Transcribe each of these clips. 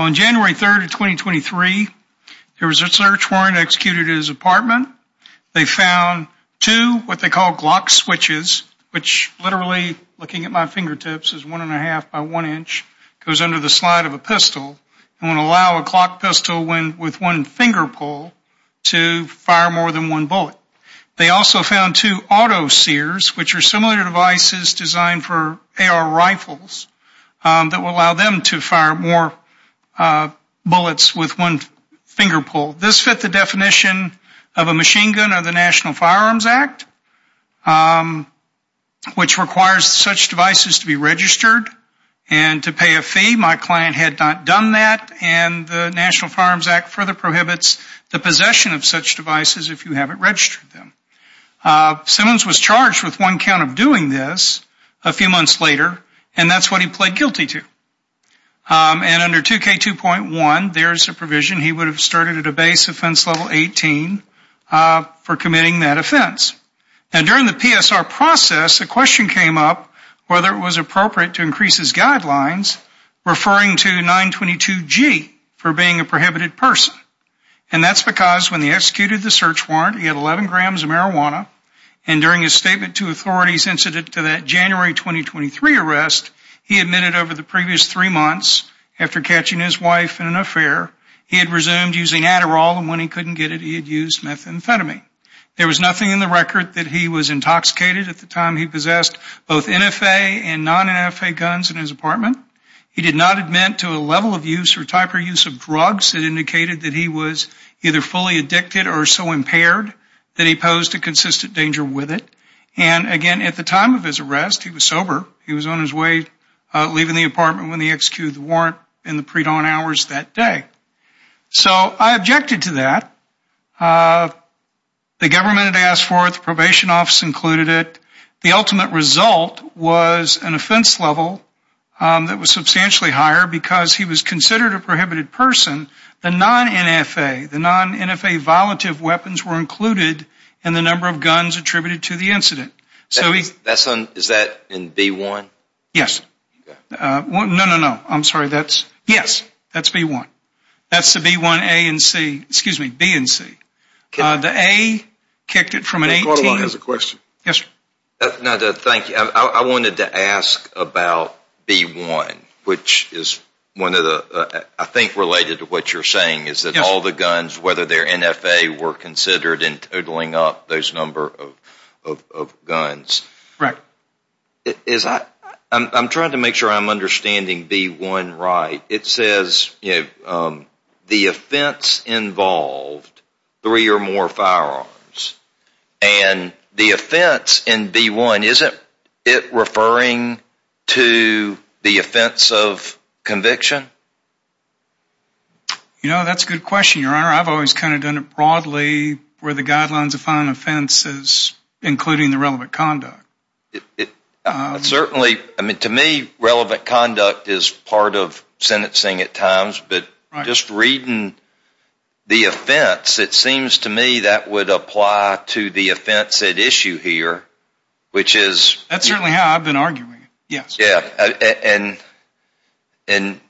on January 3rd, 2023, there was a search warrant executed his apartment. They found two what they call Glock switches, which literally looking at my fingertips is one and a half by one inch goes under the slide of a pistol and will allow a clock pistol when with one finger pull to fire a shot at a target. They also found two auto sears, which are similar devices designed for AR rifles that will allow them to fire more bullets with one finger pull. This fit the definition of a machine gun of the National Firearms Act, which requires such devices to be registered and to pay a fee. My client had not done that, and the National Firearms Act further prohibits the possession of such devices if you haven't registered them. Simmons was charged with one count of doing this a few months later, and that's what he pled guilty to. And under 2K2.1, there's a provision he would have started at a base offense level 18 for committing that offense. And during the PSR process, a question came up whether it was appropriate to increase his guidelines referring to 922G for being a prohibited person. And that's because when he executed the search warrant, he had 11 grams of marijuana, and during his statement to authorities incident to that January 2023 arrest, he admitted over the previous three months after catching his wife in an affair, he had resumed using Adderall, and when he couldn't get it, he had used methamphetamine. There was nothing in the record that he was intoxicated at the time he possessed both NFA and non-NFA guns in his apartment. He did not admit to a level of use or type or use of drugs that indicated that he was either fully addicted or so impaired that he posed a consistent danger with it. And again, at the time of his arrest, he was sober. He was on his way leaving the apartment when he executed the warrant in the predawn hours that day. So I objected to that. The government had asked for it. The probation office included it. The ultimate result was an offense level that was substantially higher because he was considered a prohibited person. The non-NFA, the non-NFA violative weapons were included in the number of guns attributed to the incident. Is that in B1? Yes. No, no, no. I'm sorry. Yes, that's B1. That's the B1 A and C, excuse me, B and C. The A kicked it from an 18. I wanted to ask about B1, which is one of the, I think related to what you're saying, is that all the guns, whether they're NFA, were considered in totaling up those number of guns. Correct. I'm trying to make sure I'm understanding B1 right. It says the offense involved three or more firearms. And the offense in B1, isn't it referring to the offense of conviction? You know, that's a good question, Your Honor. I've always kind of done it broadly where the guidelines of final offense is including the relevant conduct. Certainly, I mean, to me, relevant conduct is part of sentencing at times, but just reading the offense, it seems to me that would apply to the offense at issue here, which is That's certainly how I've been arguing it. Yes. And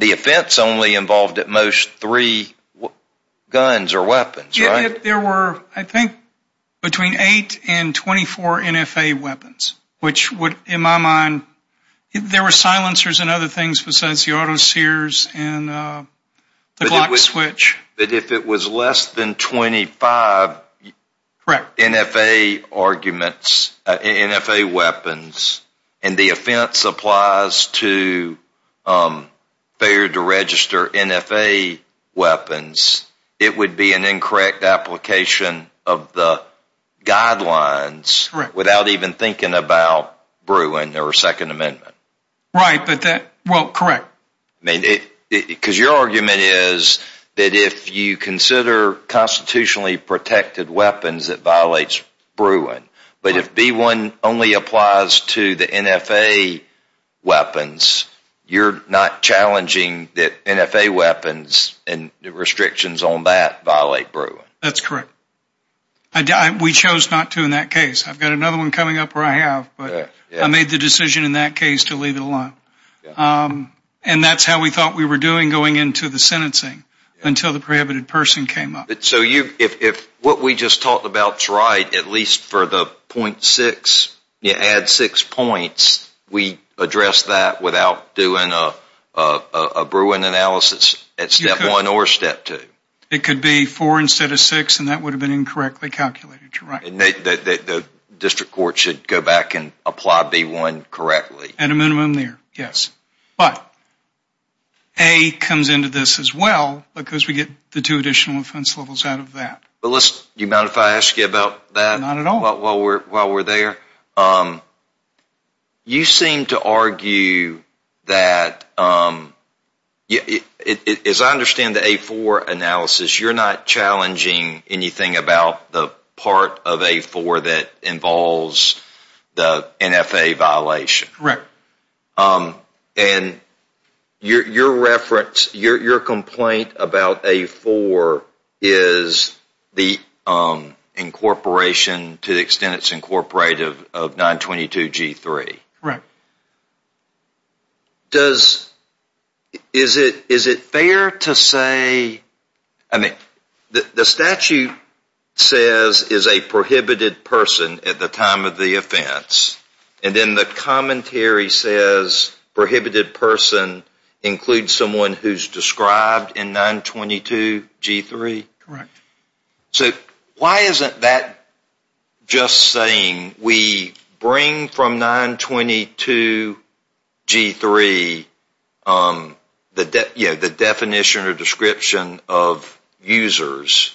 the offense only involved at most three guns or weapons, right? There were, I think, between eight and 24 NFA weapons, which would, in my mind, there were silencers and other things besides the auto sears and the Glock switch. But if it was less than 25 NFA arguments, NFA weapons, and the offense applies to failure to register NFA weapons, it would be an incorrect application of the guidelines without even thinking about Bruin or Second Amendment. Right, but that, well, correct. Because your argument is that if you consider constitutionally protected weapons, it violates Bruin, but if B1 only applies to the NFA weapons, you're not challenging that NFA weapons and the restrictions on that violate Bruin. That's correct. We chose not to in that case. I've got another one coming up where I have, but I made the decision in that case to leave it alone. And that's how we thought we were doing going into the sentencing until the prohibited person came up. So if what we just talked about is right, at least for the .6, you add six points, we address that without doing a Bruin analysis at step one or step two? It could be four instead of six, and that would have been incorrectly calculated, you're right. And the district court should go back and apply B1 correctly? At a minimum there, yes. But A comes into this as well because we get the two additional offense levels out of that. Do you mind if I ask you about that? Not at all. While we're there, you seem to argue that, as I understand the A4 analysis, you're not challenging anything about the part of A4 that involves the NFA violation? Correct. And your reference, your complaint about A4 is the incorporation to the extent it's incorporated of 922G3? Correct. Is it fair to say, I mean, the statute says is a prohibited person at the time of the offense, and then the commentary says prohibited person includes someone who's described in 922G3? Correct. So why isn't that just saying we bring from 922G3 the definition or description of users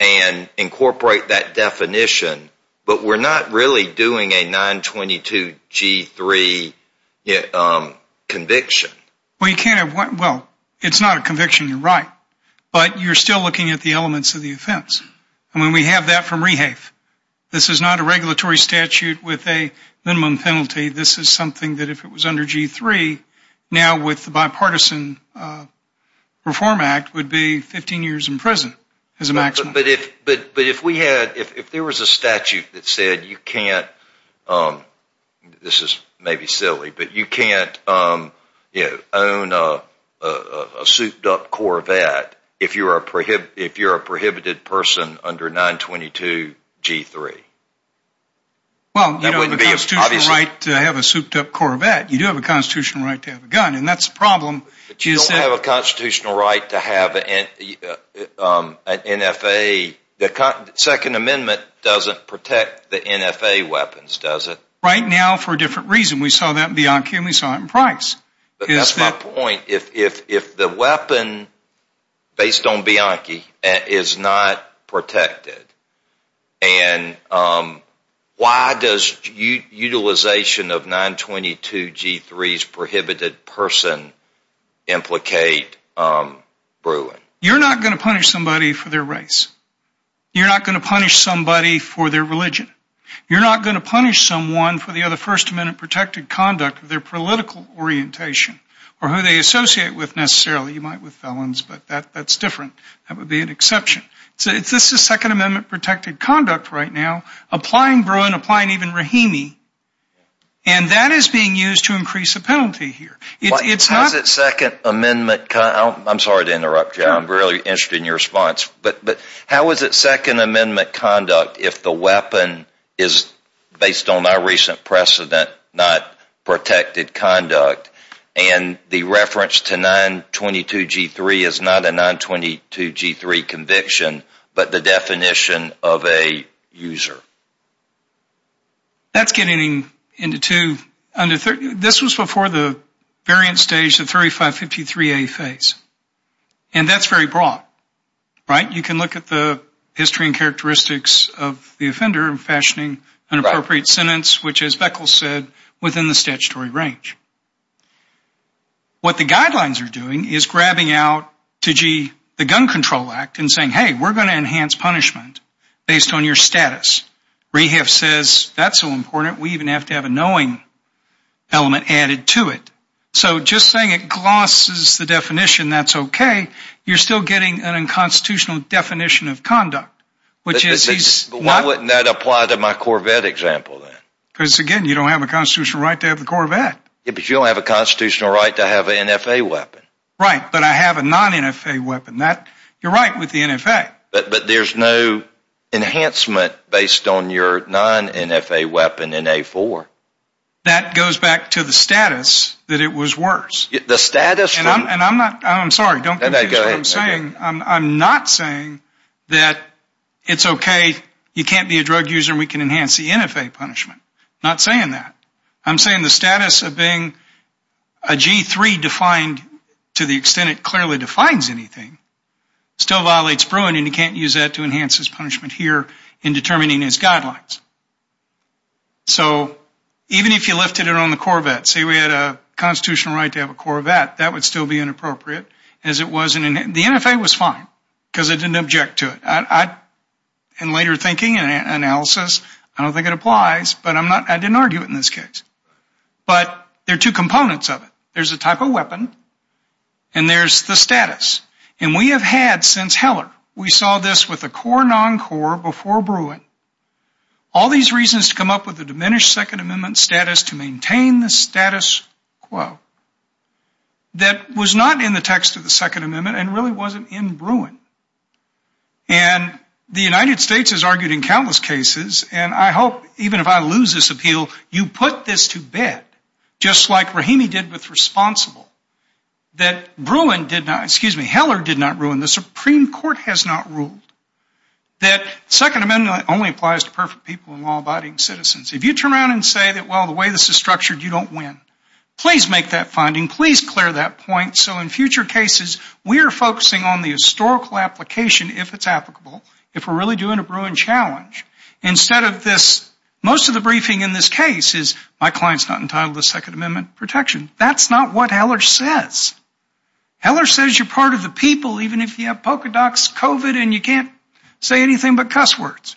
and incorporate that definition, but we're not really doing a 922G3 conviction? Well, it's not a conviction, you're right, but you're still looking at the elements of the offense. I mean, we have that from REHAFE. This is not a regulatory statute with a minimum penalty. This is something that if it was under G3, now with the bipartisan reform act, would be 15 years in prison as a maximum. But if we had, if there was a statute that said you can't, this is maybe silly, but you can't own a souped up Corvette if you're a prohibited person under 922G3. Well, you don't have a constitutional right to have a souped up Corvette, you do have a constitutional right to have a gun, and that's the problem. But you don't have a constitutional right to have an NFA, the second amendment doesn't protect the NFA weapons, does it? Right now for a different reason. We saw that in Bianchi and we saw it in Price. But that's my point, if the weapon based on Bianchi is not protected, and why does utilization of 922G3's prohibited person implicate brewing? You're not going to punish somebody for their race. You're not going to punish somebody for their religion. You're not going to punish someone for the other first amendment protected conduct, their political orientation, or who they associate with necessarily. You might with felons, but that's different. That would be an exception. This is second amendment protected conduct right now, applying Bruin, applying even Rahimi, and that is being used to increase the penalty here. How is it second amendment, I'm sorry to interrupt you, I'm really interested in your response, but how is it second amendment conduct if the weapon is based on our recent precedent, not protected conduct, and the reference to 922G3 is not a 922G3 conviction, but the definition of a user? That's getting into two, this was before the variant stage, the 3553A phase, and that's very broad, right? You can look at the history and characteristics of the offender and fashioning an appropriate sentence, which as Beckles said, within the statutory range. What the guidelines are doing is grabbing out 2G, the gun control act, and saying, hey, we're going to enhance punishment based on your status. Rehab says that's so important, we even have to have a knowing element added to it. So just saying it glosses the definition, that's okay, you're still getting an unconstitutional definition of conduct. But why wouldn't that apply to my Corvette example then? Because again, you don't have a constitutional right to have the Corvette. Because you don't have a constitutional right to have an NFA weapon. Right, but I have a non-NFA weapon. You're right with the NFA. But there's no enhancement based on your non-NFA weapon in A4. That goes back to the status that it was worse. The status? I'm sorry, don't confuse what I'm saying. I'm not saying that it's okay, you can't be a drug user and we can enhance the NFA punishment. I'm not saying that. I'm saying the status of being a G3 defined to the extent it clearly defines anything, still violates Bruin and you can't use that to enhance his punishment here in determining his guidelines. So even if you lifted it on the Corvette, say we had a constitutional right to have a Corvette, that would still be inappropriate. The NFA was fine because I didn't object to it. In later thinking and analysis, I don't think it applies, but I didn't argue it in this case. But there are two components of it. There's a type of weapon and there's the status. And we have had since Heller, we saw this with the core non-core before Bruin, all these reasons to come up with a diminished Second Amendment status to maintain the status quo that was not in the text of the Second Amendment and really wasn't in Bruin. And the United States has argued in countless cases, and I hope even if I lose this appeal, you put this to bed just like Rahimi did with Responsible. That Bruin did not, excuse me, Heller did not ruin. The Supreme Court has not ruled. That Second Amendment only applies to perfect people and law-abiding citizens. If you turn around and say, well, the way this is structured, you don't win. Please make that finding. Please clear that point. So in future cases, we are focusing on the historical application if it's applicable, if we're really doing a Bruin challenge. Instead of this, most of the briefing in this case is, my client's not entitled to Second Amendment protection. That's not what Heller says. Heller says you're part of the people even if you have polka dots, COVID, and you can't say anything but cuss words.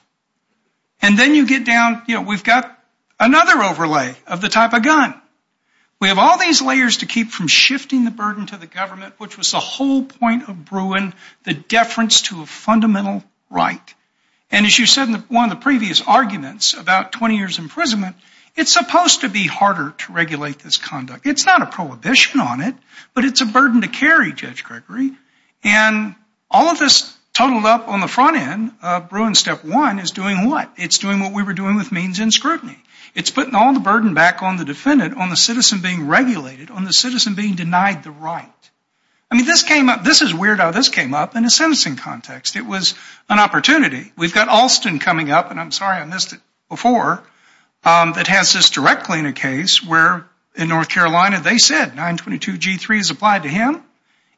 And then you get down, you know, we've got another overlay of the type of gun. We have all these layers to keep from shifting the burden to the government, which was the whole point of Bruin, the deference to a fundamental right. And as you said in one of the previous arguments about 20 years' imprisonment, it's supposed to be harder to regulate this conduct. It's not a prohibition on it, but it's a burden to carry, Judge Gregory. And all of this totaled up on the front end of Bruin step one is doing what? It's doing what we were doing with means and scrutiny. It's putting all the burden back on the defendant, on the citizen being regulated, on the citizen being denied the right. I mean, this is weird how this came up in a sentencing context. It was an opportunity. We've got Alston coming up, and I'm sorry I missed it before, that has this directly in a case where in North Carolina they said 922G3 is applied to him,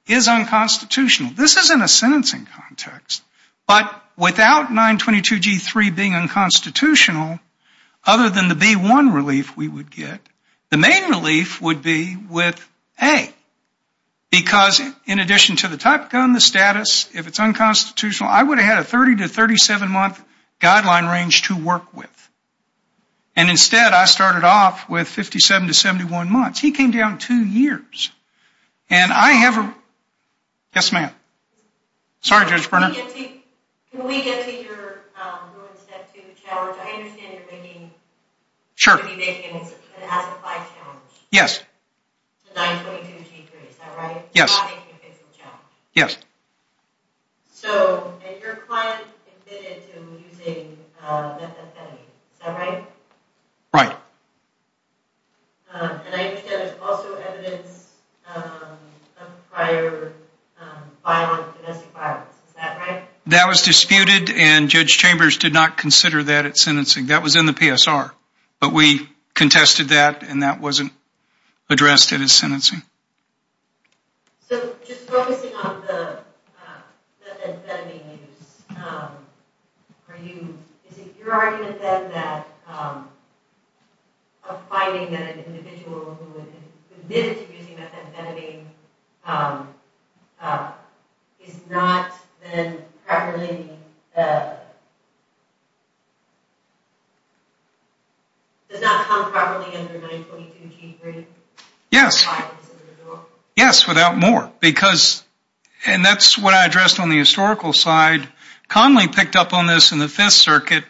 is unconstitutional. This is in a sentencing context. But without 922G3 being unconstitutional, other than the B-1 relief we would get, the main relief would be with A. Because in addition to the type gun, the status, if it's unconstitutional, I would have had a 30 to 37-month guideline range to work with. And instead I started off with 57 to 71 months. He came down two years. And I have a question. Yes, ma'am. Sorry, Judge Berner. Can we get to your rule in step two challenge? I understand you're making an as-applied challenge. Yes. 922G3, is that right? Yes. You're not making a physical challenge. Yes. So your client admitted to using methamphetamine, is that right? Right. And I understand there's also evidence of prior violent domestic violence. Is that right? That was disputed, and Judge Chambers did not consider that at sentencing. That was in the PSR. But we contested that, and that wasn't addressed at his sentencing. So just focusing on the methamphetamine use, is it your argument, then, that a finding that an individual who admitted to using methamphetamine is not then properly does not come properly under 922G3? Yes. Yes, without more. And that's what I addressed on the historical side. Conley picked up on this in the Fifth Circuit.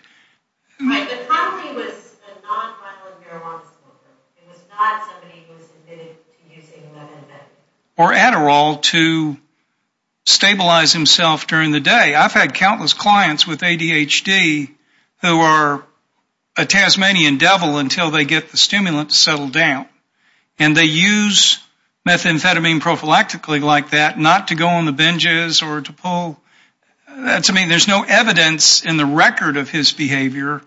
Right, but Conley was a non-violent marijuana smoker. He was not somebody who was admitted to using methamphetamine. Or Adderall to stabilize himself during the day. I've had countless clients with ADHD who are a Tasmanian devil until they get the stimulant to settle down. And they use methamphetamine prophylactically like that, not to go on the binges or to pull. There's no evidence in the record of his behavior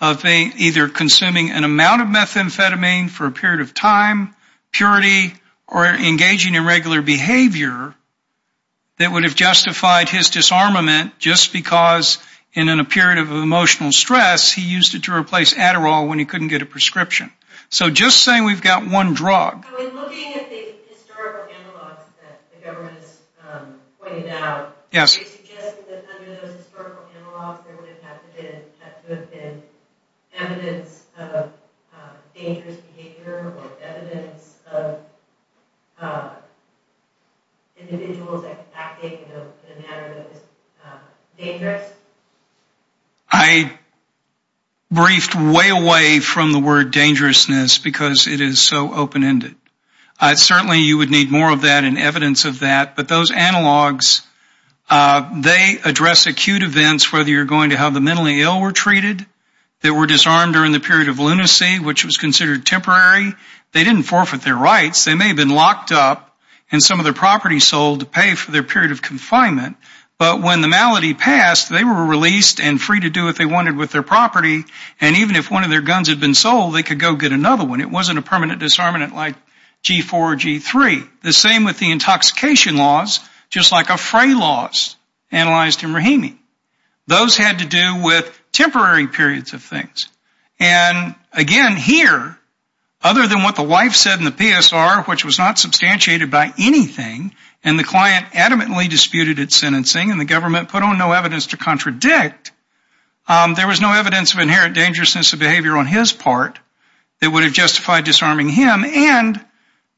of either consuming an amount of methamphetamine for a period of time, purity, or engaging in regular behavior that would have justified his disarmament just because in a period of emotional stress, he used it to replace Adderall when he couldn't get a prescription. So just saying we've got one drug. So in looking at the historical analogs that the government has pointed out, they suggested that under those historical analogs, there would have to have been evidence of dangerous behavior or evidence of individuals acting in a manner that is dangerous? I briefed way away from the word dangerousness because it is so open-ended. Certainly, you would need more of that and evidence of that. But those analogs, they address acute events, whether you're going to have the mentally ill were treated, they were disarmed during the period of lunacy, which was considered temporary. They didn't forfeit their rights. They may have been locked up and some of their property sold to pay for their period of confinement. But when the malady passed, they were released and free to do what they wanted with their property. And even if one of their guns had been sold, they could go get another one. It wasn't a permanent disarmament like G4 or G3. The same with the intoxication laws, just like a fray laws analyzed in Rahimi. Those had to do with temporary periods of things. And again, here, other than what the wife said in the PSR, which was not substantiated by anything, and the client adamantly disputed its sentencing, and the government put on no evidence to contradict, there was no evidence of inherent dangerousness of behavior on his part that would have justified disarming him. And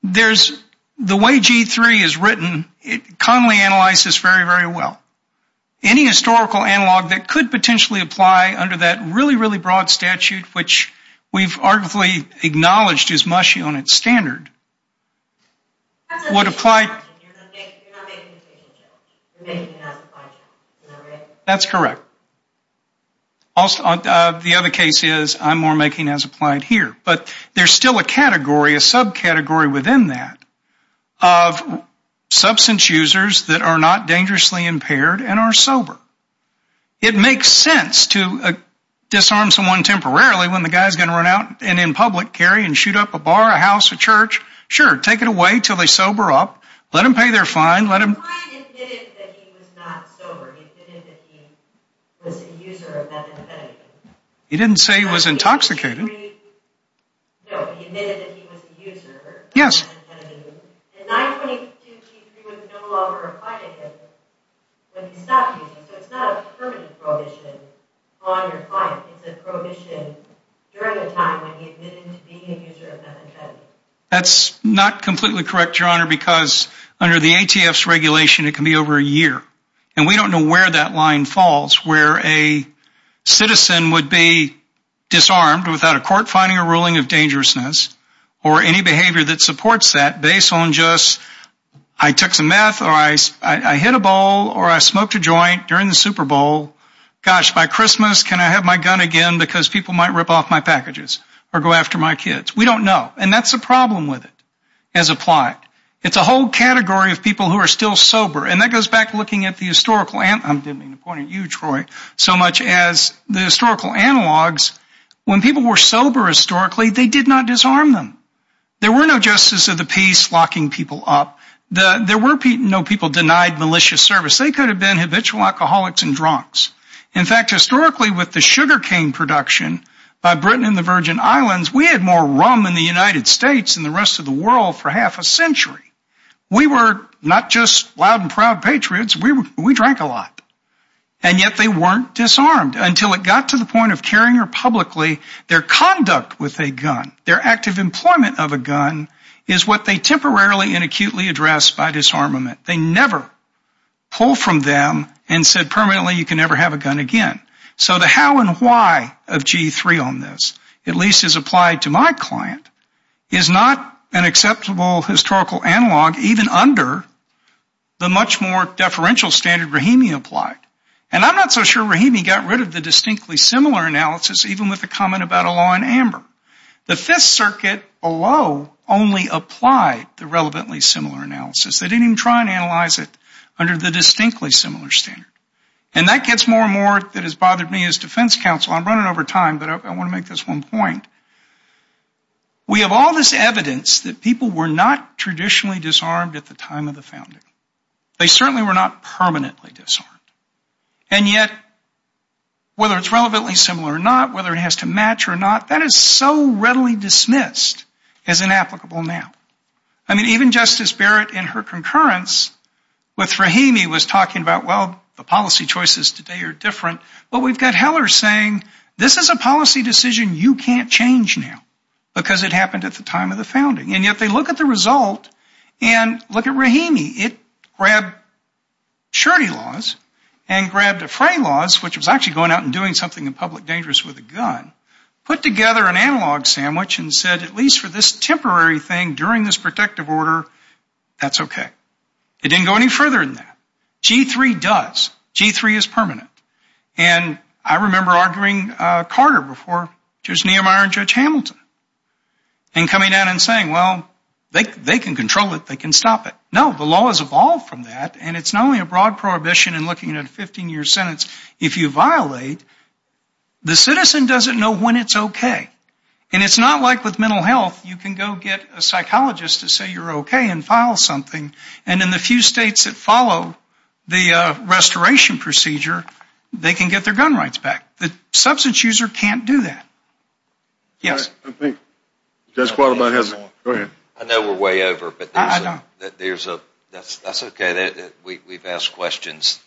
the way G3 is written, it commonly analyzes very, very well. Any historical analog that could potentially apply under that really, really broad statute, which we've arguably acknowledged is mushy on its standard, would apply. You're not making a case in jail. You're making an as-applied charge. Is that right? That's correct. The other case is, I'm more making as-applied here. But there's still a category, a subcategory within that, of substance users that are not dangerously impaired and are sober. It makes sense to disarm someone temporarily when the guy's going to run out and in public carry and shoot up a bar, a house, a church. Sure, take it away until they sober up. Let them pay their fine. The client admitted that he was not sober. He admitted that he was a user of methamphetamine. He didn't say he was intoxicated. No, he admitted that he was a user of methamphetamine. And 922G3 was no longer applying to him when he stopped using. So it's not a permanent prohibition on your client. It's a prohibition during the time when he admitted to being a user of methamphetamine. That's not completely correct, Your Honor, because under the ATF's regulation it can be over a year. And we don't know where that line falls, where a citizen would be disarmed without a court finding a ruling of dangerousness or any behavior that supports that based on just, I took some meth or I hit a bowl or I smoked a joint during the Super Bowl. Gosh, by Christmas can I have my gun again because people might rip off my packages or go after my kids. We don't know. And that's the problem with it as applied. It's a whole category of people who are still sober. And that goes back to looking at the historical analogs so much as the historical analogs. When people were sober historically, they did not disarm them. There were no justice of the peace locking people up. There were no people denied malicious service. They could have been habitual alcoholics and drunks. In fact, historically with the sugar cane production by Britain and the Virgin Islands, we had more rum in the United States than the rest of the world for half a century. We were not just loud and proud patriots. We drank a lot. And yet they weren't disarmed until it got to the point of carrying it publicly. Their conduct with a gun, their active employment of a gun, is what they temporarily and acutely address by disarmament. They never pull from them and said permanently you can never have a gun again. So the how and why of G3 on this, at least as applied to my client, is not an acceptable historical analog even under the much more deferential standard Rahimi applied. And I'm not so sure Rahimi got rid of the distinctly similar analysis even with the comment about a law in amber. The Fifth Circuit below only applied the relevantly similar analysis. They didn't even try and analyze it under the distinctly similar standard. And that gets more and more that has bothered me as defense counsel. I'm running over time, but I want to make this one point. We have all this evidence that people were not traditionally disarmed at the time of the founding. They certainly were not permanently disarmed. And yet whether it's relevantly similar or not, whether it has to match or not, that is so readily dismissed as inapplicable now. I mean, even Justice Barrett in her concurrence with Rahimi was talking about, well, the policy choices today are different. But we've got Heller saying this is a policy decision you can't change now because it happened at the time of the founding. And yet they look at the result and look at Rahimi. It grabbed surety laws and grabbed defray laws, which was actually going out and doing something in public dangerous with a gun, put together an analog sandwich and said at least for this temporary thing during this protective order, that's okay. It didn't go any further than that. G-3 does. G-3 is permanent. And I remember arguing Carter before Judge Niemeyer and Judge Hamilton and coming out and saying, well, they can control it, they can stop it. No, the law has evolved from that, and it's not only a broad prohibition in looking at a 15-year sentence. If you violate, the citizen doesn't know when it's okay. And it's not like with mental health. You can go get a psychologist to say you're okay and file something. And in the few states that follow the restoration procedure, they can get their gun rights back. The substance user can't do that. Yes. I think that's all I have. Go ahead. I know we're way over. I know. That's okay. We've asked questions.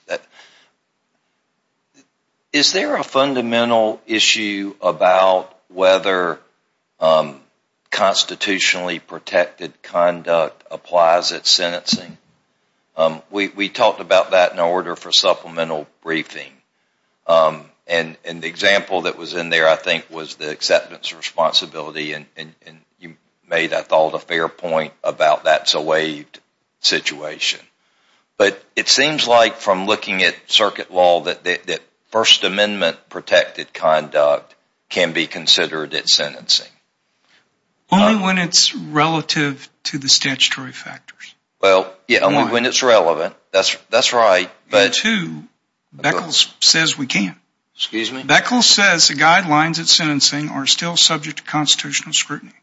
Is there a fundamental issue about whether constitutionally protected conduct applies at sentencing? We talked about that in order for supplemental briefing. And the example that was in there, I think, was the acceptance responsibility, and you made, I thought, a fair point about that's a waived situation. But it seems like from looking at circuit law that First Amendment protected conduct can be considered at sentencing. Only when it's relative to the statutory factors. Well, yeah, only when it's relevant. That's right. But too, Beckles says we can't. Excuse me? Beckles says the guidelines at sentencing are still subject to constitutional scrutiny.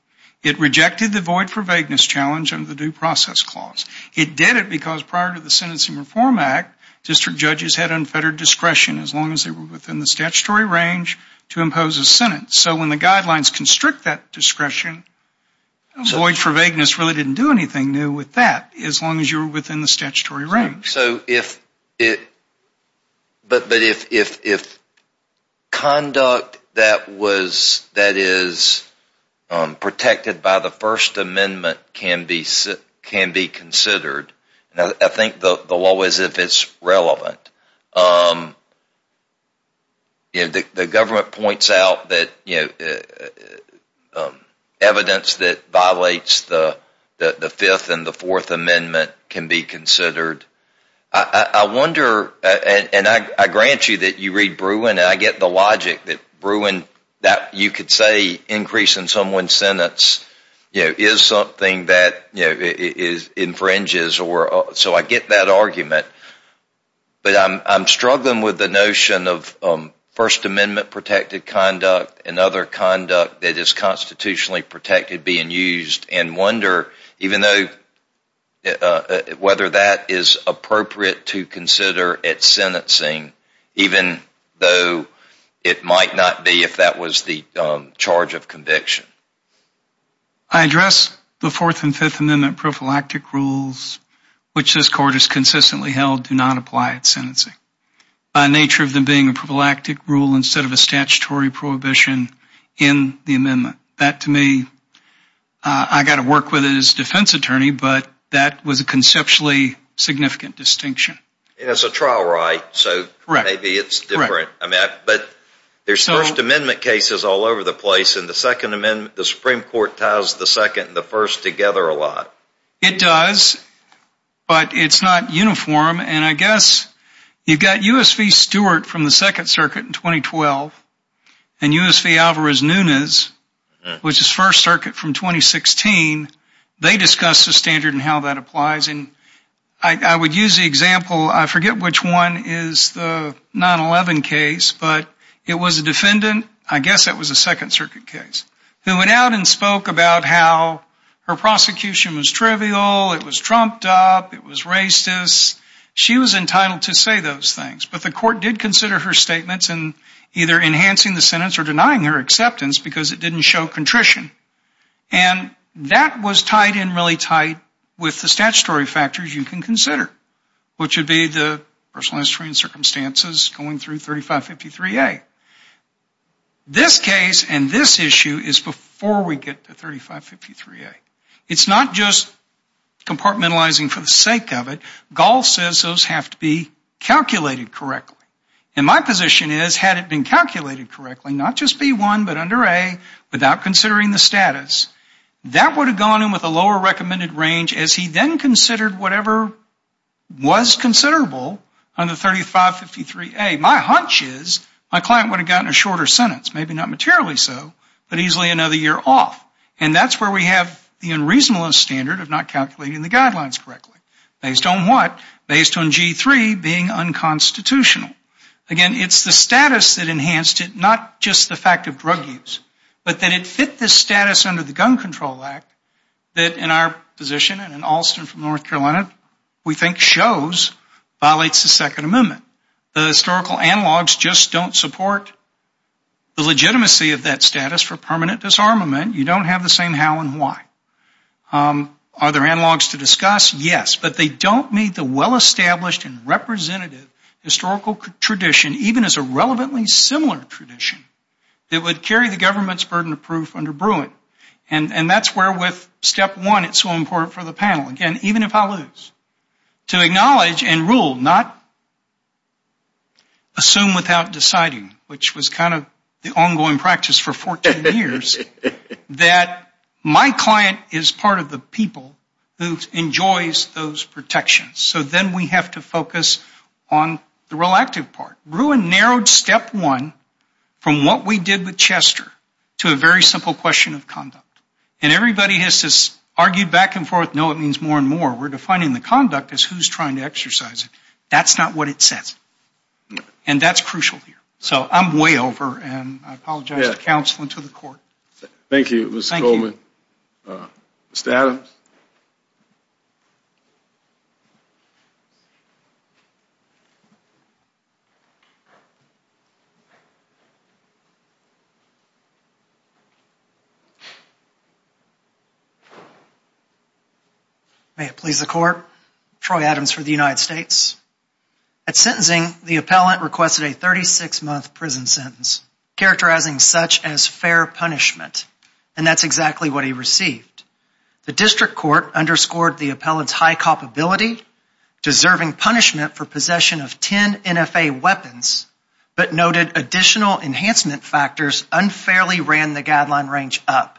It rejected the void for vagueness challenge under the due process clause. It did it because prior to the Sentencing Reform Act, district judges had unfettered discretion as long as they were within the statutory range to impose a sentence. So when the guidelines constrict that discretion, void for vagueness really didn't do anything new with that, as long as you were within the statutory range. So if, but if conduct that was, that is protected by the First Amendment can be considered, I think the law is if it's relevant. The government points out that evidence that violates the Fifth and the Fourth Amendment can be considered. I wonder, and I grant you that you read Bruin, and I get the logic that Bruin, that you could say increase in someone's sentence is something that infringes or, so I get that argument. But I'm struggling with the notion of First Amendment protected conduct and other conduct that is constitutionally protected being used, and wonder whether that is appropriate to consider at sentencing, even though it might not be if that was the charge of conviction. I address the Fourth and Fifth Amendment prophylactic rules, which this Court has consistently held do not apply at sentencing, by nature of them being a prophylactic rule instead of a statutory prohibition in the amendment. That to me, I got to work with his defense attorney, but that was a conceptually significant distinction. It's a trial right, so maybe it's different. But there's First Amendment cases all over the place, and the Second Amendment, the Supreme Court ties the Second and the First together a lot. It does, but it's not uniform, and I guess you've got U.S.V. which is First Circuit from 2016. They discussed the standard and how that applies, and I would use the example, I forget which one is the 9-11 case, but it was a defendant, I guess it was a Second Circuit case, who went out and spoke about how her prosecution was trivial, it was trumped up, it was racist. She was entitled to say those things, but the Court did consider her statements in either enhancing the sentence or denying her acceptance because it didn't show contrition, and that was tied in really tight with the statutory factors you can consider, which would be the personal history and circumstances going through 3553A. This case and this issue is before we get to 3553A. It's not just compartmentalizing for the sake of it. Gaul says those have to be calculated correctly, and my position is had it been calculated correctly, not just B1 but under A, without considering the status, that would have gone in with a lower recommended range as he then considered whatever was considerable under 3553A. My hunch is my client would have gotten a shorter sentence, maybe not materially so, but easily another year off, and that's where we have the unreasonable standard of not calculating the guidelines correctly. Based on what? Based on G3 being unconstitutional. Again, it's the status that enhanced it, not just the fact of drug use, but that it fit the status under the Gun Control Act that in our position and in Alston from North Carolina, we think shows violates the Second Amendment. The historical analogs just don't support the legitimacy of that status for permanent disarmament. You don't have the same how and why. Are there analogs to discuss? Yes. But they don't meet the well-established and representative historical tradition, even as a relevantly similar tradition, that would carry the government's burden of proof under Bruin. And that's where with Step 1 it's so important for the panel, again, even if I lose, to acknowledge and rule, not assume without deciding, which was kind of the ongoing practice for 14 years, that my client is part of the people who enjoys those protections. So then we have to focus on the relative part. Bruin narrowed Step 1 from what we did with Chester to a very simple question of conduct. And everybody has just argued back and forth, no, it means more and more. We're defining the conduct as who's trying to exercise it. That's not what it says. And that's crucial here. So I'm way over, and I apologize to counsel and to the court. Thank you, Mr. Goldman. Mr. Adams. May it please the court, Troy Adams for the United States. At sentencing, the appellant requested a 36-month prison sentence, characterizing such as fair punishment. And that's exactly what he received. The district court underscored the appellant's high culpability, deserving punishment for possession of 10 NFA weapons, but noted additional enhancement factors unfairly ran the guideline range up.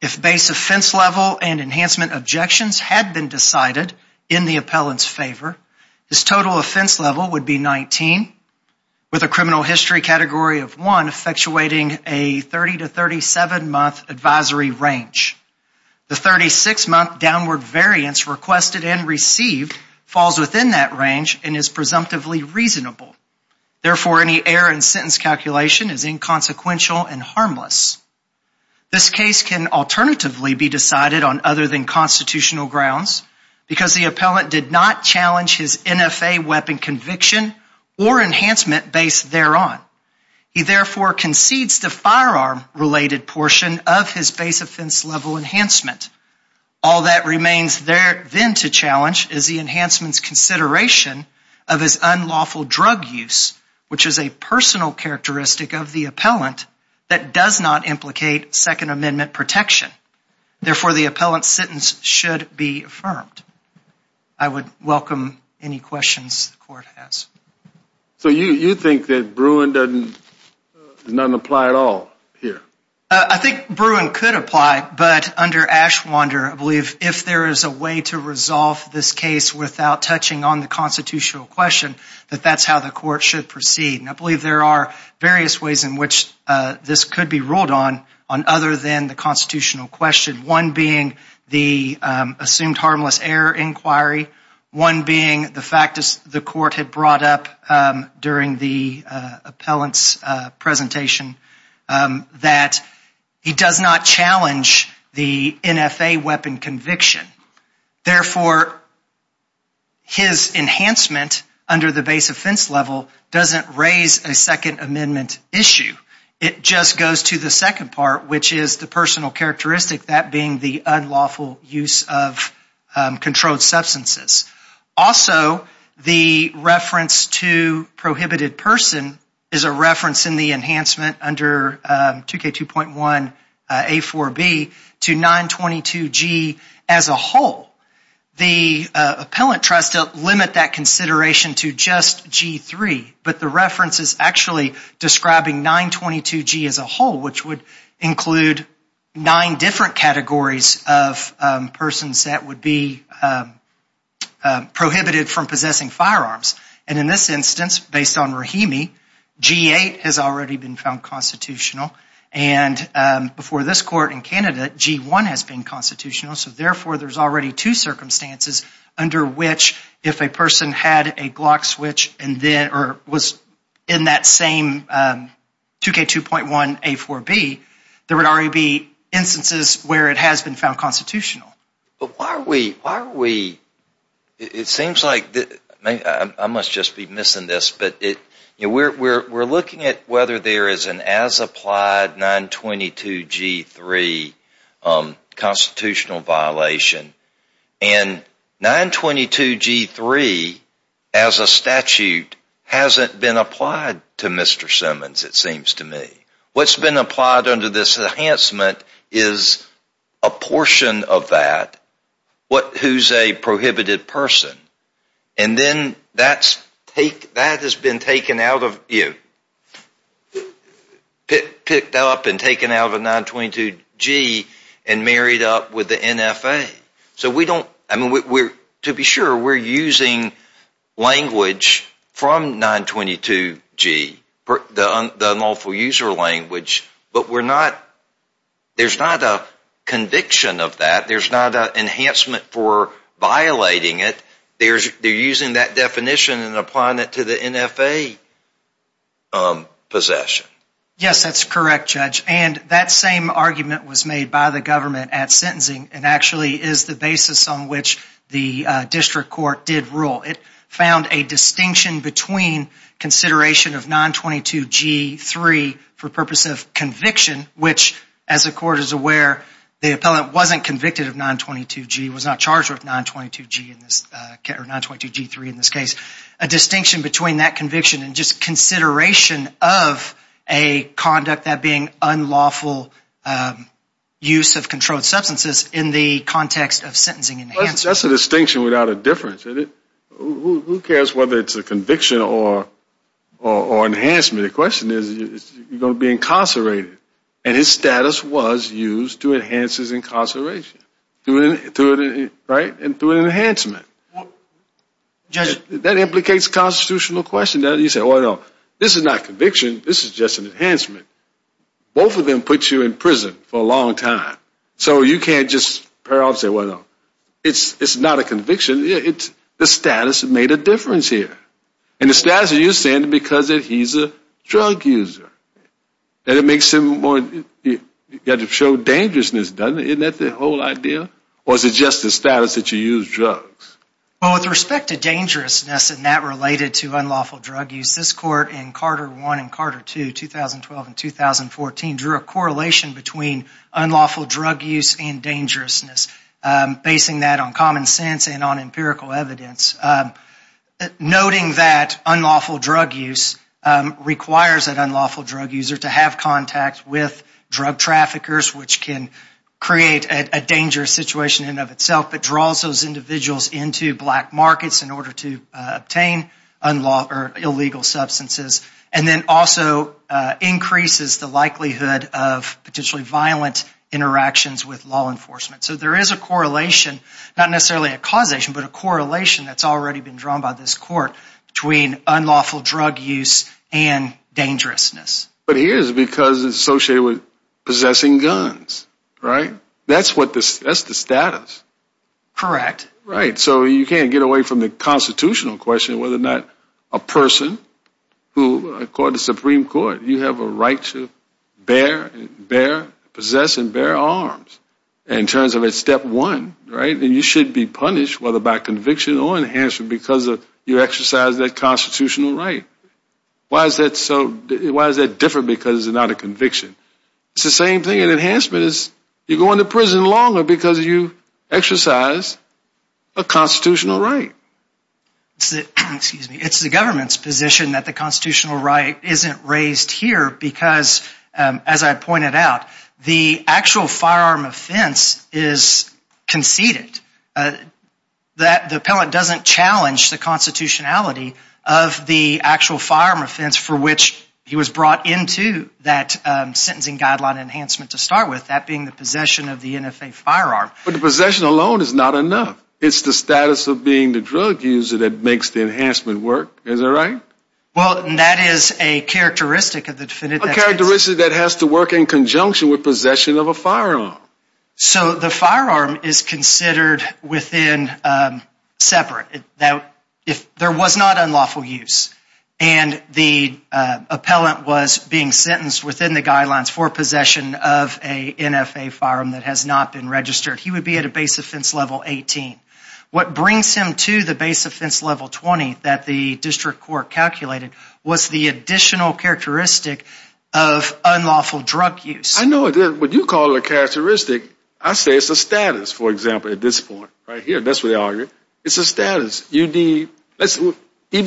If base offense level and enhancement objections had been decided in the appellant's favor, his total offense level would be 19, with a criminal history category of 1, effectuating a 30- to 37-month advisory range. The 36-month downward variance requested and received falls within that range and is presumptively reasonable. Therefore, any error in sentence calculation is inconsequential and harmless. This case can alternatively be decided on other than constitutional grounds because the appellant did not challenge his NFA weapon conviction or enhancement base thereon. He, therefore, concedes the firearm-related portion of his base offense level enhancement. All that remains then to challenge is the enhancement's consideration of his unlawful drug use, which is a personal characteristic of the appellant that does not implicate Second Amendment protection. Therefore, the appellant's sentence should be affirmed. I would welcome any questions the court has. So you think that Bruin does not apply at all here? I think Bruin could apply, but under Ashwander, I believe if there is a way to resolve this case without touching on the constitutional question, that that's how the court should proceed. And I believe there are various ways in which this could be ruled on other than the constitutional question, one being the assumed harmless error inquiry, one being the fact that the court had brought up during the appellant's presentation that he does not challenge the NFA weapon conviction. Therefore, his enhancement under the base offense level doesn't raise a Second Amendment issue. It just goes to the second part, which is the personal characteristic, that being the unlawful use of controlled substances. Also, the reference to prohibited person is a reference in the enhancement under 2K2.1A4B to 922G as a whole. The appellant tries to limit that consideration to just G3, but the reference is actually describing 922G as a whole, which would include nine different categories of persons that would be prohibited from possessing firearms. And in this instance, based on Rahimi, G8 has already been found constitutional, and before this court in Canada, G1 has been constitutional, so therefore there's already two circumstances under which if a person had a Glock switch or was in that same 2K2.1A4B, there would already be instances where it has been found constitutional. But why are we, it seems like, I must just be missing this, but we're looking at whether there is an as-applied 922G3 constitutional violation. And 922G3, as a statute, hasn't been applied to Mr. Simmons, it seems to me. What's been applied under this enhancement is a portion of that who's a prohibited person. And then that has been picked up and taken out of 922G and married up with the NFA. So we don't, I mean, to be sure, we're using language from 922G, the unlawful user language, but we're not, there's not a conviction of that, there's not an enhancement for violating it. They're using that definition and applying it to the NFA possession. Yes, that's correct, Judge. And that same argument was made by the government at sentencing and actually is the basis on which the district court did rule. It found a distinction between consideration of 922G3 for purpose of conviction, which, as the court is aware, the appellant wasn't convicted of 922G, was not charged with 922G in this, or 922G3 in this case. A distinction between that conviction and just consideration of a conduct that being unlawful use of controlled substances in the context of sentencing enhancement. That's a distinction without a difference. Who cares whether it's a conviction or enhancement? The question is, you're going to be incarcerated. And his status was used to enhance his incarceration, right? And through an enhancement. That implicates a constitutional question. You say, well, no, this is not conviction. This is just an enhancement. Both of them put you in prison for a long time. So you can't just parole and say, well, no, it's not a conviction. The status made a difference here. And the status that you're saying is because he's a drug user. And it makes him more, you've got to show dangerousness, doesn't it? Isn't that the whole idea? Or is it just the status that you use drugs? Well, with respect to dangerousness and that related to unlawful drug use, this court in Carter I and Carter II, 2012 and 2014, drew a correlation between unlawful drug use and dangerousness, basing that on common sense and on empirical evidence. Noting that unlawful drug use requires an unlawful drug user to have contact with drug traffickers, which can create a dangerous situation in and of itself, but draws those individuals into black markets in order to obtain illegal substances and then also increases the likelihood of potentially violent interactions with law enforcement. So there is a correlation, not necessarily a causation, but a correlation that's already been drawn by this court between unlawful drug use and dangerousness. But here it is because it's associated with possessing guns, right? That's the status. Right, so you can't get away from the constitutional question whether or not a person who, according to the Supreme Court, you have a right to bear, possess and bear arms in terms of a step one, right? And you should be punished whether by conviction or enhancement because you exercise that constitutional right. Why is that different because it's not a conviction? It's the same thing in enhancement. You're going to prison longer because you exercise a constitutional right. It's the government's position that the constitutional right isn't raised here because, as I pointed out, the actual firearm offense is conceded. The appellant doesn't challenge the constitutionality of the actual firearm offense for which he was brought into that sentencing guideline enhancement to start with, that being the possession of the NFA firearm. But the possession alone is not enough. It's the status of being the drug user that makes the enhancement work. Is that right? Well, that is a characteristic of the defendant. A characteristic that has to work in conjunction with possession of a firearm. So the firearm is considered within separate. There was not unlawful use. And the appellant was being sentenced within the guidelines for possession of a NFA firearm that has not been registered. He would be at a base offense level 18. What brings him to the base offense level 20 that the district court calculated was the additional characteristic of unlawful drug use. I know what you call a characteristic. I say it's a status, for example, at this point right here. That's what they argue. It's a status. Even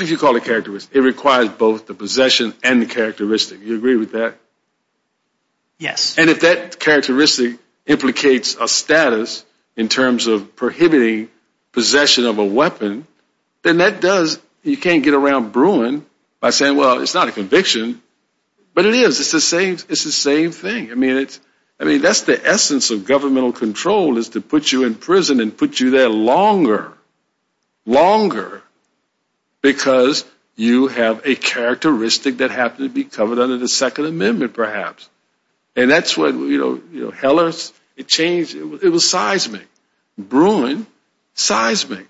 if you call it a characteristic, it requires both the possession and the characteristic. Do you agree with that? Yes. And if that characteristic implicates a status in terms of prohibiting possession of a weapon, then that does. You can't get around Bruin by saying, well, it's not a conviction. But it is. It's the same thing. I mean, that's the essence of governmental control is to put you in prison and put you there longer, longer, because you have a characteristic that happens to be covered under the Second Amendment, perhaps. And that's what, you know, Hellers, it changed. It was seismic. Bruin, seismic.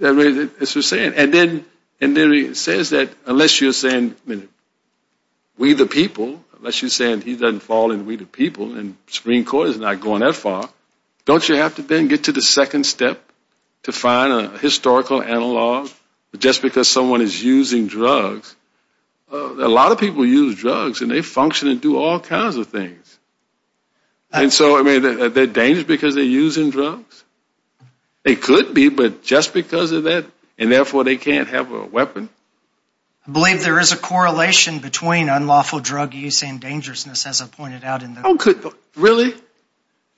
And then it says that unless you're saying, we the people, unless you're saying he doesn't fall in, we the people, and the Supreme Court is not going that far, don't you have to then get to the second step to find a historical analog just because someone is using drugs? A lot of people use drugs, and they function and do all kinds of things. And so, I mean, they're dangerous because they're using drugs? They could be, but just because of that, and therefore they can't have a weapon? I believe there is a correlation between unlawful drug use and dangerousness, as I pointed out in the book. Really? Really.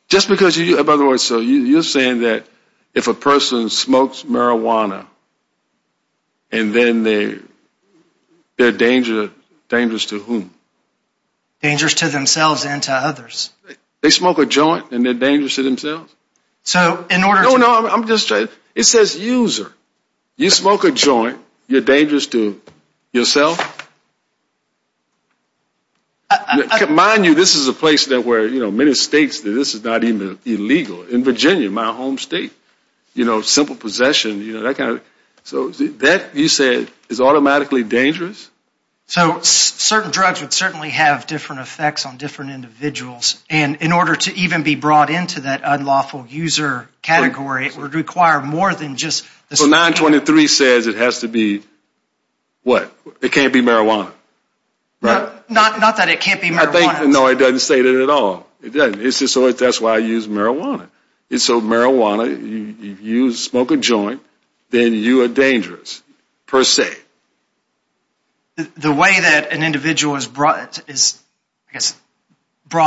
Just because you use it. By the way, so you're saying that if a person smokes marijuana and then they're dangerous to whom? Dangerous to themselves and to others. They smoke a joint and they're dangerous to themselves? So in order to – No, no, I'm just – it says user. You smoke a joint, you're dangerous to yourself? Mind you, this is a place where many states, this is not even illegal. In Virginia, my home state, simple possession, that kind of – so that, you said, is automatically dangerous? So certain drugs would certainly have different effects on different individuals, and in order to even be brought into that unlawful user category, it would require more than just – So 923 says it has to be what? It can't be marijuana, right? Not that it can't be marijuana. No, it doesn't say that at all. That's why I use marijuana. So marijuana, you smoke a joint, then you are dangerous, per se. The way that an individual is brought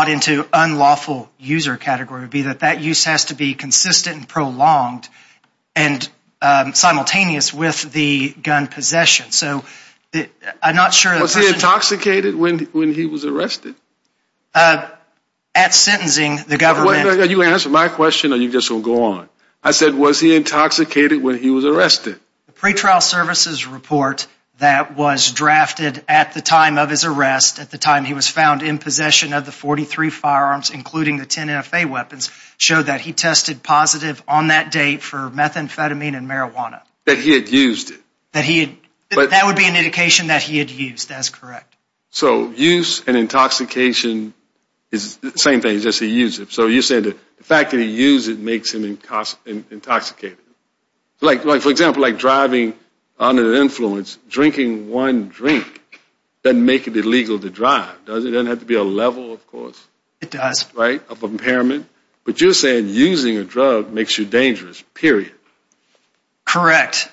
into unlawful user category would be that that use has to be consistent and prolonged and simultaneous with the gun possession. So I'm not sure – Was he intoxicated when he was arrested? At sentencing, the government – You answer my question or you're just going to go on? I said, was he intoxicated when he was arrested? The pretrial services report that was drafted at the time of his arrest, at the time he was found in possession of the 43 firearms, including the 10 NFA weapons, showed that he tested positive on that date for methamphetamine and marijuana. That he had used it? That he had – that would be an indication that he had used. That's correct. So use and intoxication is the same thing, just he used it. So you're saying the fact that he used it makes him intoxicated. Like, for example, like driving under the influence, drinking one drink doesn't make it illegal to drive, does it? It doesn't have to be a level, of course. It does. Right, of impairment. But you're saying using a drug makes you dangerous, period. Correct.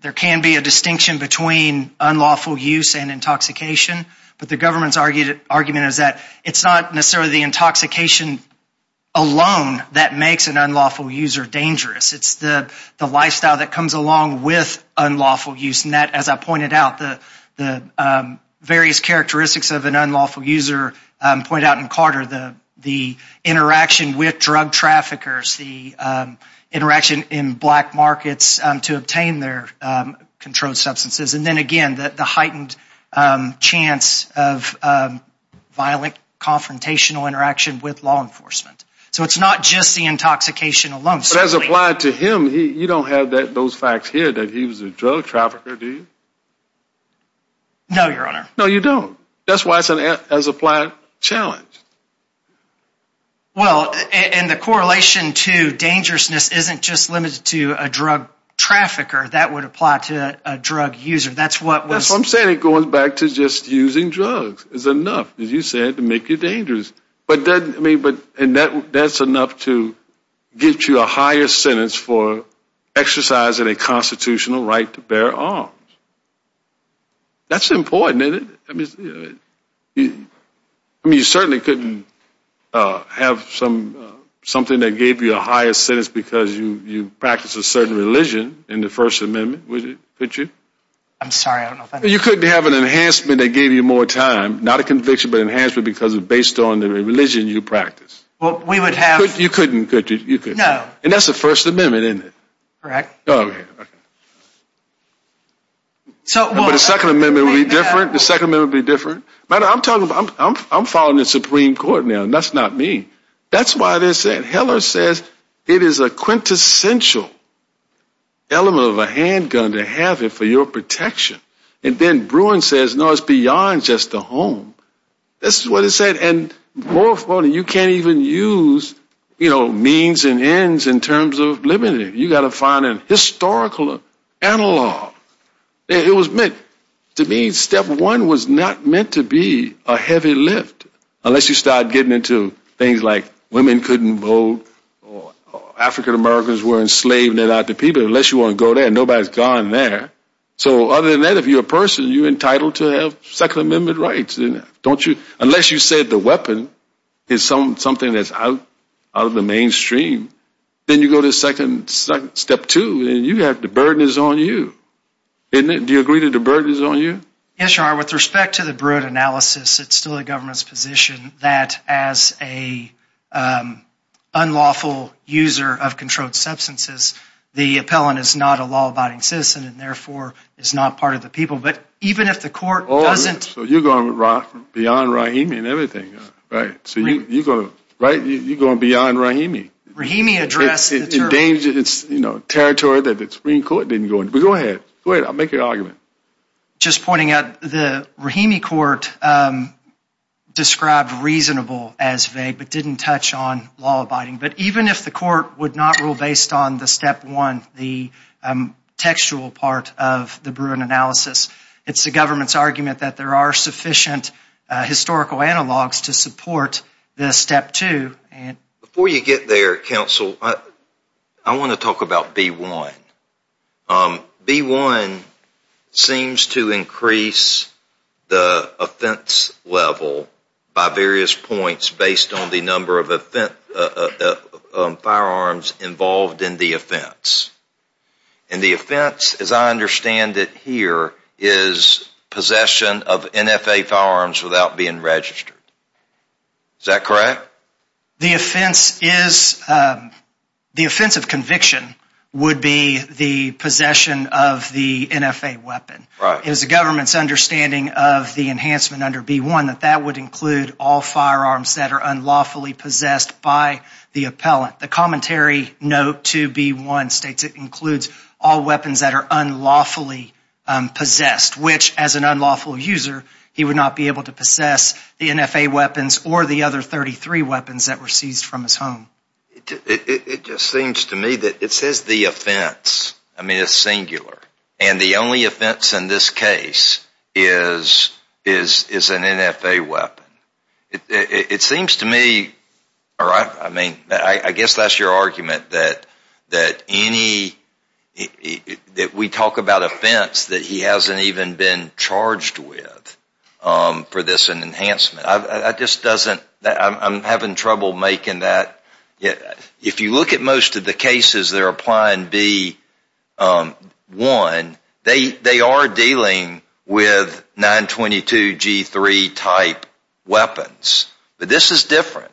There can be a distinction between unlawful use and intoxication. But the government's argument is that it's not necessarily the intoxication alone that makes an unlawful user dangerous. It's the lifestyle that comes along with unlawful use. And that, as I pointed out, the various characteristics of an unlawful user, pointed out in Carter, the interaction with drug traffickers, the interaction in black markets to obtain their controlled substances, and then, again, the heightened chance of violent, confrontational interaction with law enforcement. So it's not just the intoxication alone. But as applied to him, you don't have those facts here, that he was a drug trafficker, do you? No, Your Honor. No, you don't. That's why it's an as-applied challenge. Well, and the correlation to dangerousness isn't just limited to a drug trafficker. That would apply to a drug user. That's what was... That's what I'm saying. It goes back to just using drugs is enough, as you said, to make you dangerous. And that's enough to get you a higher sentence for exercising a constitutional right to bear arms. That's important, isn't it? I mean, you certainly couldn't have something that gave you a higher sentence because you practiced a certain religion in the First Amendment, could you? I'm sorry, I don't know if I'm... You couldn't have an enhancement that gave you more time, not a conviction, but an enhancement because it was based on the religion you practiced. Well, we would have... You couldn't, could you? No. And that's the First Amendment, isn't it? Correct. Okay. But the Second Amendment would be different? The Second Amendment would be different? I'm following the Supreme Court now, and that's not me. That's why they said... Heller says it is a quintessential element of a handgun to have it for your protection. And then Bruin says, no, it's beyond just a home. That's what it said. And more importantly, you can't even use means and ends in terms of limiting it. You've got to find a historical analog. It was meant... To me, step one was not meant to be a heavy lift, unless you start getting into things like women couldn't vote or African Americans were enslaved and they're not the people, unless you want to go there and nobody's gone there. So other than that, if you're a person, you're entitled to have Second Amendment rights, don't you? Unless you said the weapon is something that's out of the mainstream, then you go to step two and the burden is on you. Do you agree that the burden is on you? Yes, Your Honor. With respect to the Bruin analysis, it's still the government's position that as an unlawful user of controlled substances, the appellant is not a law-abiding citizen and therefore is not part of the people. But even if the court doesn't... So you're going beyond Rahimi and everything, right? You're going beyond Rahimi. Rahimi addressed the term. It's endangered territory that the Supreme Court didn't go into. But go ahead. Go ahead. I'll make an argument. Just pointing out, the Rahimi court described reasonable as vague but didn't touch on law-abiding. But even if the court would not rule based on the step one, the textual part of the Bruin analysis, it's the government's argument that there are sufficient historical analogs to support this step two. Before you get there, counsel, I want to talk about B-1. B-1 seems to increase the offense level by various points based on the number of firearms involved in the offense. And the offense, as I understand it here, is possession of NFA firearms without being registered. Is that correct? The offense of conviction would be the possession of the NFA weapon. It is the government's understanding of the enhancement under B-1 that that would include all firearms that are unlawfully possessed by the appellant. The commentary note to B-1 states it includes all weapons that are unlawfully possessed, which, as an unlawful user, he would not be able to possess the NFA weapons or the other 33 weapons that were seized from his home. It just seems to me that it says the offense. I mean, it's singular. And the only offense in this case is an NFA weapon. It seems to me, I guess that's your argument, that we talk about offense that he hasn't even been charged with for this enhancement. I'm having trouble making that. If you look at most of the cases that are applying B-1, they are dealing with 922G3-type weapons. But this is different.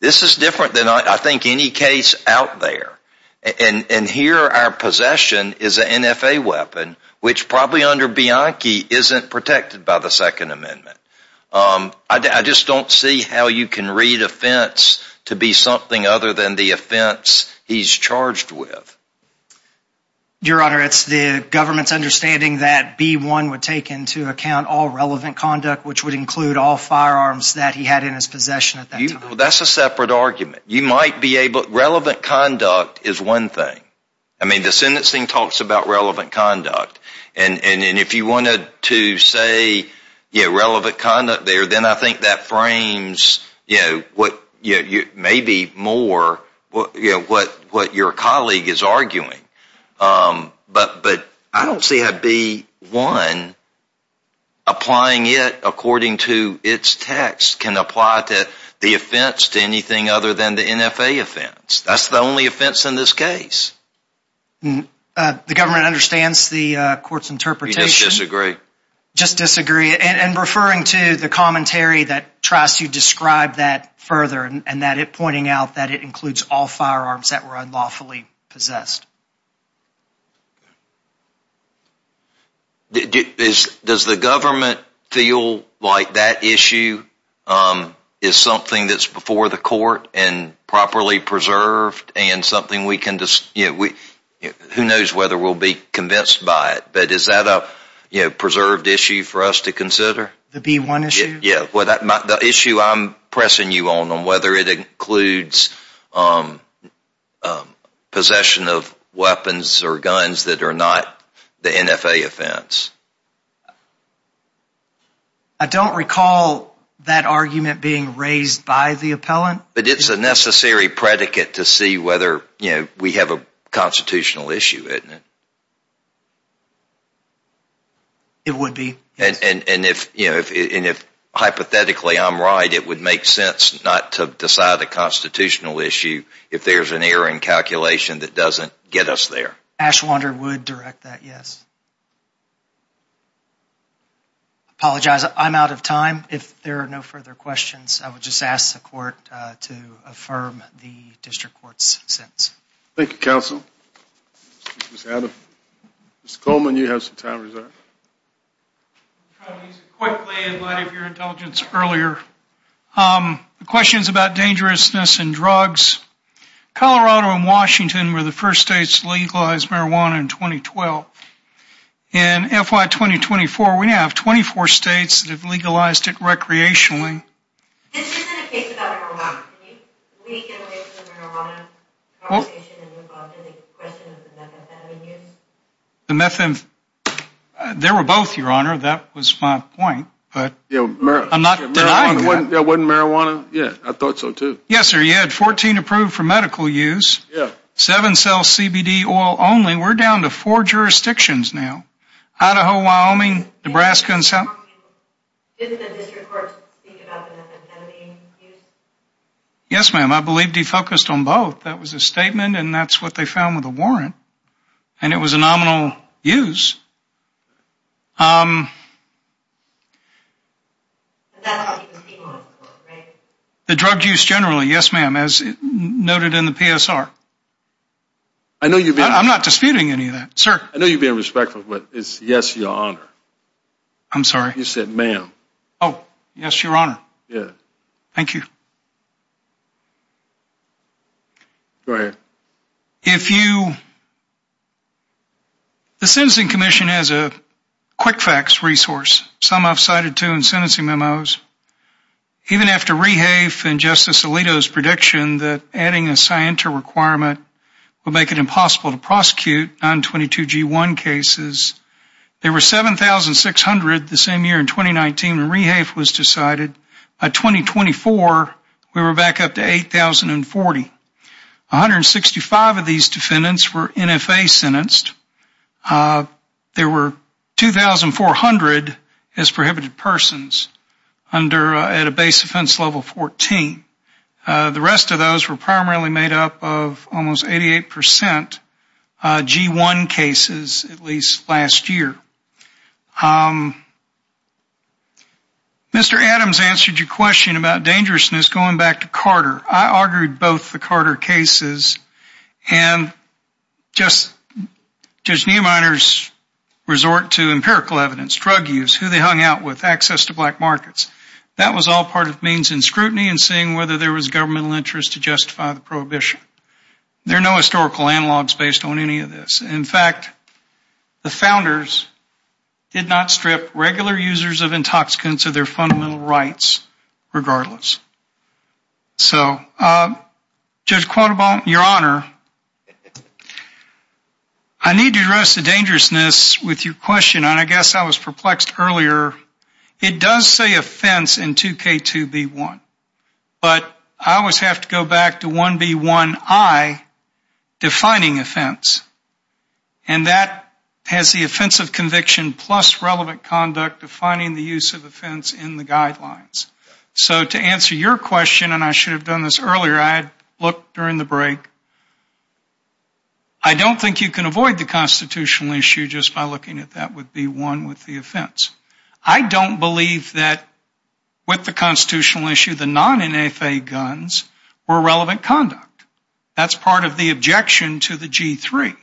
This is different than, I think, any case out there. And here our possession is an NFA weapon, which probably under Bianchi isn't protected by the Second Amendment. I just don't see how you can read offense to be something other than the offense he's charged with. Your Honor, it's the government's understanding that B-1 would take into account all relevant conduct, which would include all firearms that he had in his possession at that time. That's a separate argument. Relevant conduct is one thing. I mean, the sentencing talks about relevant conduct. And if you wanted to say relevant conduct there, then I think that frames maybe more what your colleague is arguing. But I don't see how B-1, applying it according to its text, can apply the offense to anything other than the NFA offense. That's the only offense in this case. The government understands the court's interpretation. We just disagree. Just disagree. And referring to the commentary that tries to describe that further and pointing out that it includes all firearms that were unlawfully possessed. Does the government feel like that issue is something that's before the court and properly preserved and something we can – who knows whether we'll be convinced by it. But is that a preserved issue for us to consider? The B-1 issue? Yeah. The issue I'm pressing you on on whether it includes possession of weapons or guns that are not the NFA offense. I don't recall that argument being raised by the appellant. But it's a necessary predicate to see whether we have a constitutional issue, isn't it? It would be. And if hypothetically I'm right, it would make sense not to decide a constitutional issue if there's an error in calculation that doesn't get us there. Ashwander would direct that, yes. I apologize. I'm out of time. If there are no further questions, I would just ask the court to affirm the district court's sentence. Thank you, counsel. Mr. Coleman, you have some time reserved. Quickly, in light of your intelligence earlier, the questions about dangerousness and drugs. Colorado and Washington were the first states to legalize marijuana in 2012. In FY 2024, we have 24 states that have legalized it recreationally. This isn't a case about marijuana. Can you get away from the marijuana conversation and move on to the question of the methamphetamine use? There were both, your honor. That was my point. I'm not denying that. It wasn't marijuana? Yeah, I thought so, too. Yes, sir. You had 14 approved for medical use. Seven sell CBD oil only. We're down to four jurisdictions now. Idaho, Wyoming, Nebraska, and South Dakota. Didn't the district court speak about the methamphetamine use? Yes, ma'am. I believe he focused on both. That was a statement, and that's what they found with a warrant. And it was a nominal use. The drug use generally, yes, ma'am, as noted in the PSR. I'm not disputing any of that, sir. I know you're being respectful, but it's yes, your honor. I'm sorry? You said ma'am. Oh, yes, your honor. Yes. Thank you. Go ahead. If you... The Sentencing Commission has a quick facts resource, some I've cited to in sentencing memos. Even after Rehafe and Justice Alito's prediction that adding a scienter requirement would make it impossible to prosecute 922G1 cases, there were 7,600 the same year in 2019 when Rehafe was decided. By 2024, we were back up to 8,040. 165 of these defendants were NFA sentenced. There were 2,400 as prohibited persons under, at a base offense level 14. The rest of those were primarily made up of almost 88% G1 cases, at least last year. Mr. Adams answered your question about dangerousness going back to Carter. I argued both the Carter cases and Judge Neuminer's resort to empirical evidence, drug use, who they hung out with, access to black markets. That was all part of means in scrutiny and seeing whether there was governmental interest to justify the prohibition. There are no historical analogs based on any of this. In fact, the founders did not strip regular users of intoxicants of their fundamental rights, regardless. So, Judge Quantenbaum, your honor, I need to address the dangerousness with your question, and I guess I was perplexed earlier. It does say offense in 2K2B1, but I always have to go back to 1B1I defining offense. And that has the offense of conviction plus relevant conduct defining the use of offense in the guidelines. So, to answer your question, and I should have done this earlier, I had looked during the break. I don't think you can avoid the constitutional issue just by looking at that with B1 with the offense. I don't believe that with the constitutional issue, the non-NFA guns were relevant conduct. That's part of the objection to the G3.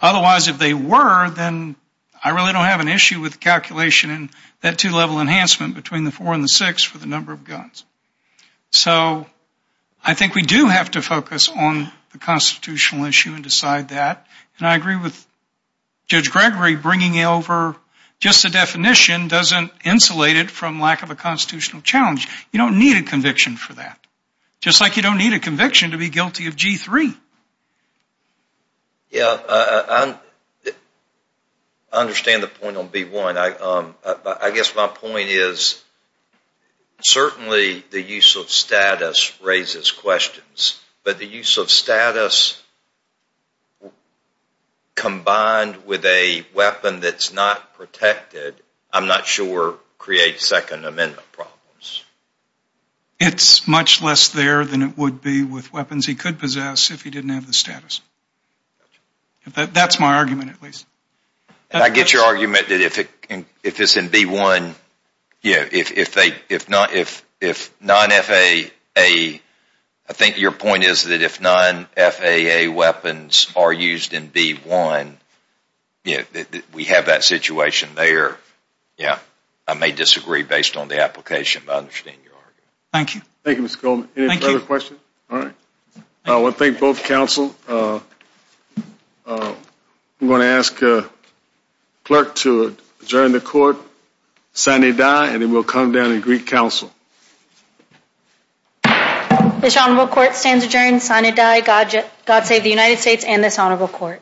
Otherwise, if they were, then I really don't have an issue with calculation and that two-level enhancement between the four and the six for the number of guns. So, I think we do have to focus on the constitutional issue and decide that. And I agree with Judge Gregory bringing over just the definition doesn't insulate it from lack of a constitutional challenge. You don't need a conviction for that. Just like you don't need a conviction to be guilty of G3. Yeah, I understand the point on B1. I guess my point is certainly the use of status raises questions. But the use of status combined with a weapon that's not protected, I'm not sure creates Second Amendment problems. It's much less there than it would be with weapons he could possess if he didn't have the status. That's my argument, at least. I get your argument that if it's in B1, if non-FAA, I think your point is that if non-FAA weapons are used in B1, we have that situation there. I may disagree based on the application, but I understand your argument. Thank you, Mr. Coleman. Any further questions? All right. I want to thank both counsel. I'm going to ask the clerk to adjourn the court, sign a die, and it will come down to Greek counsel. This honorable court stands adjourned, sign a die. God save the United States and this honorable court.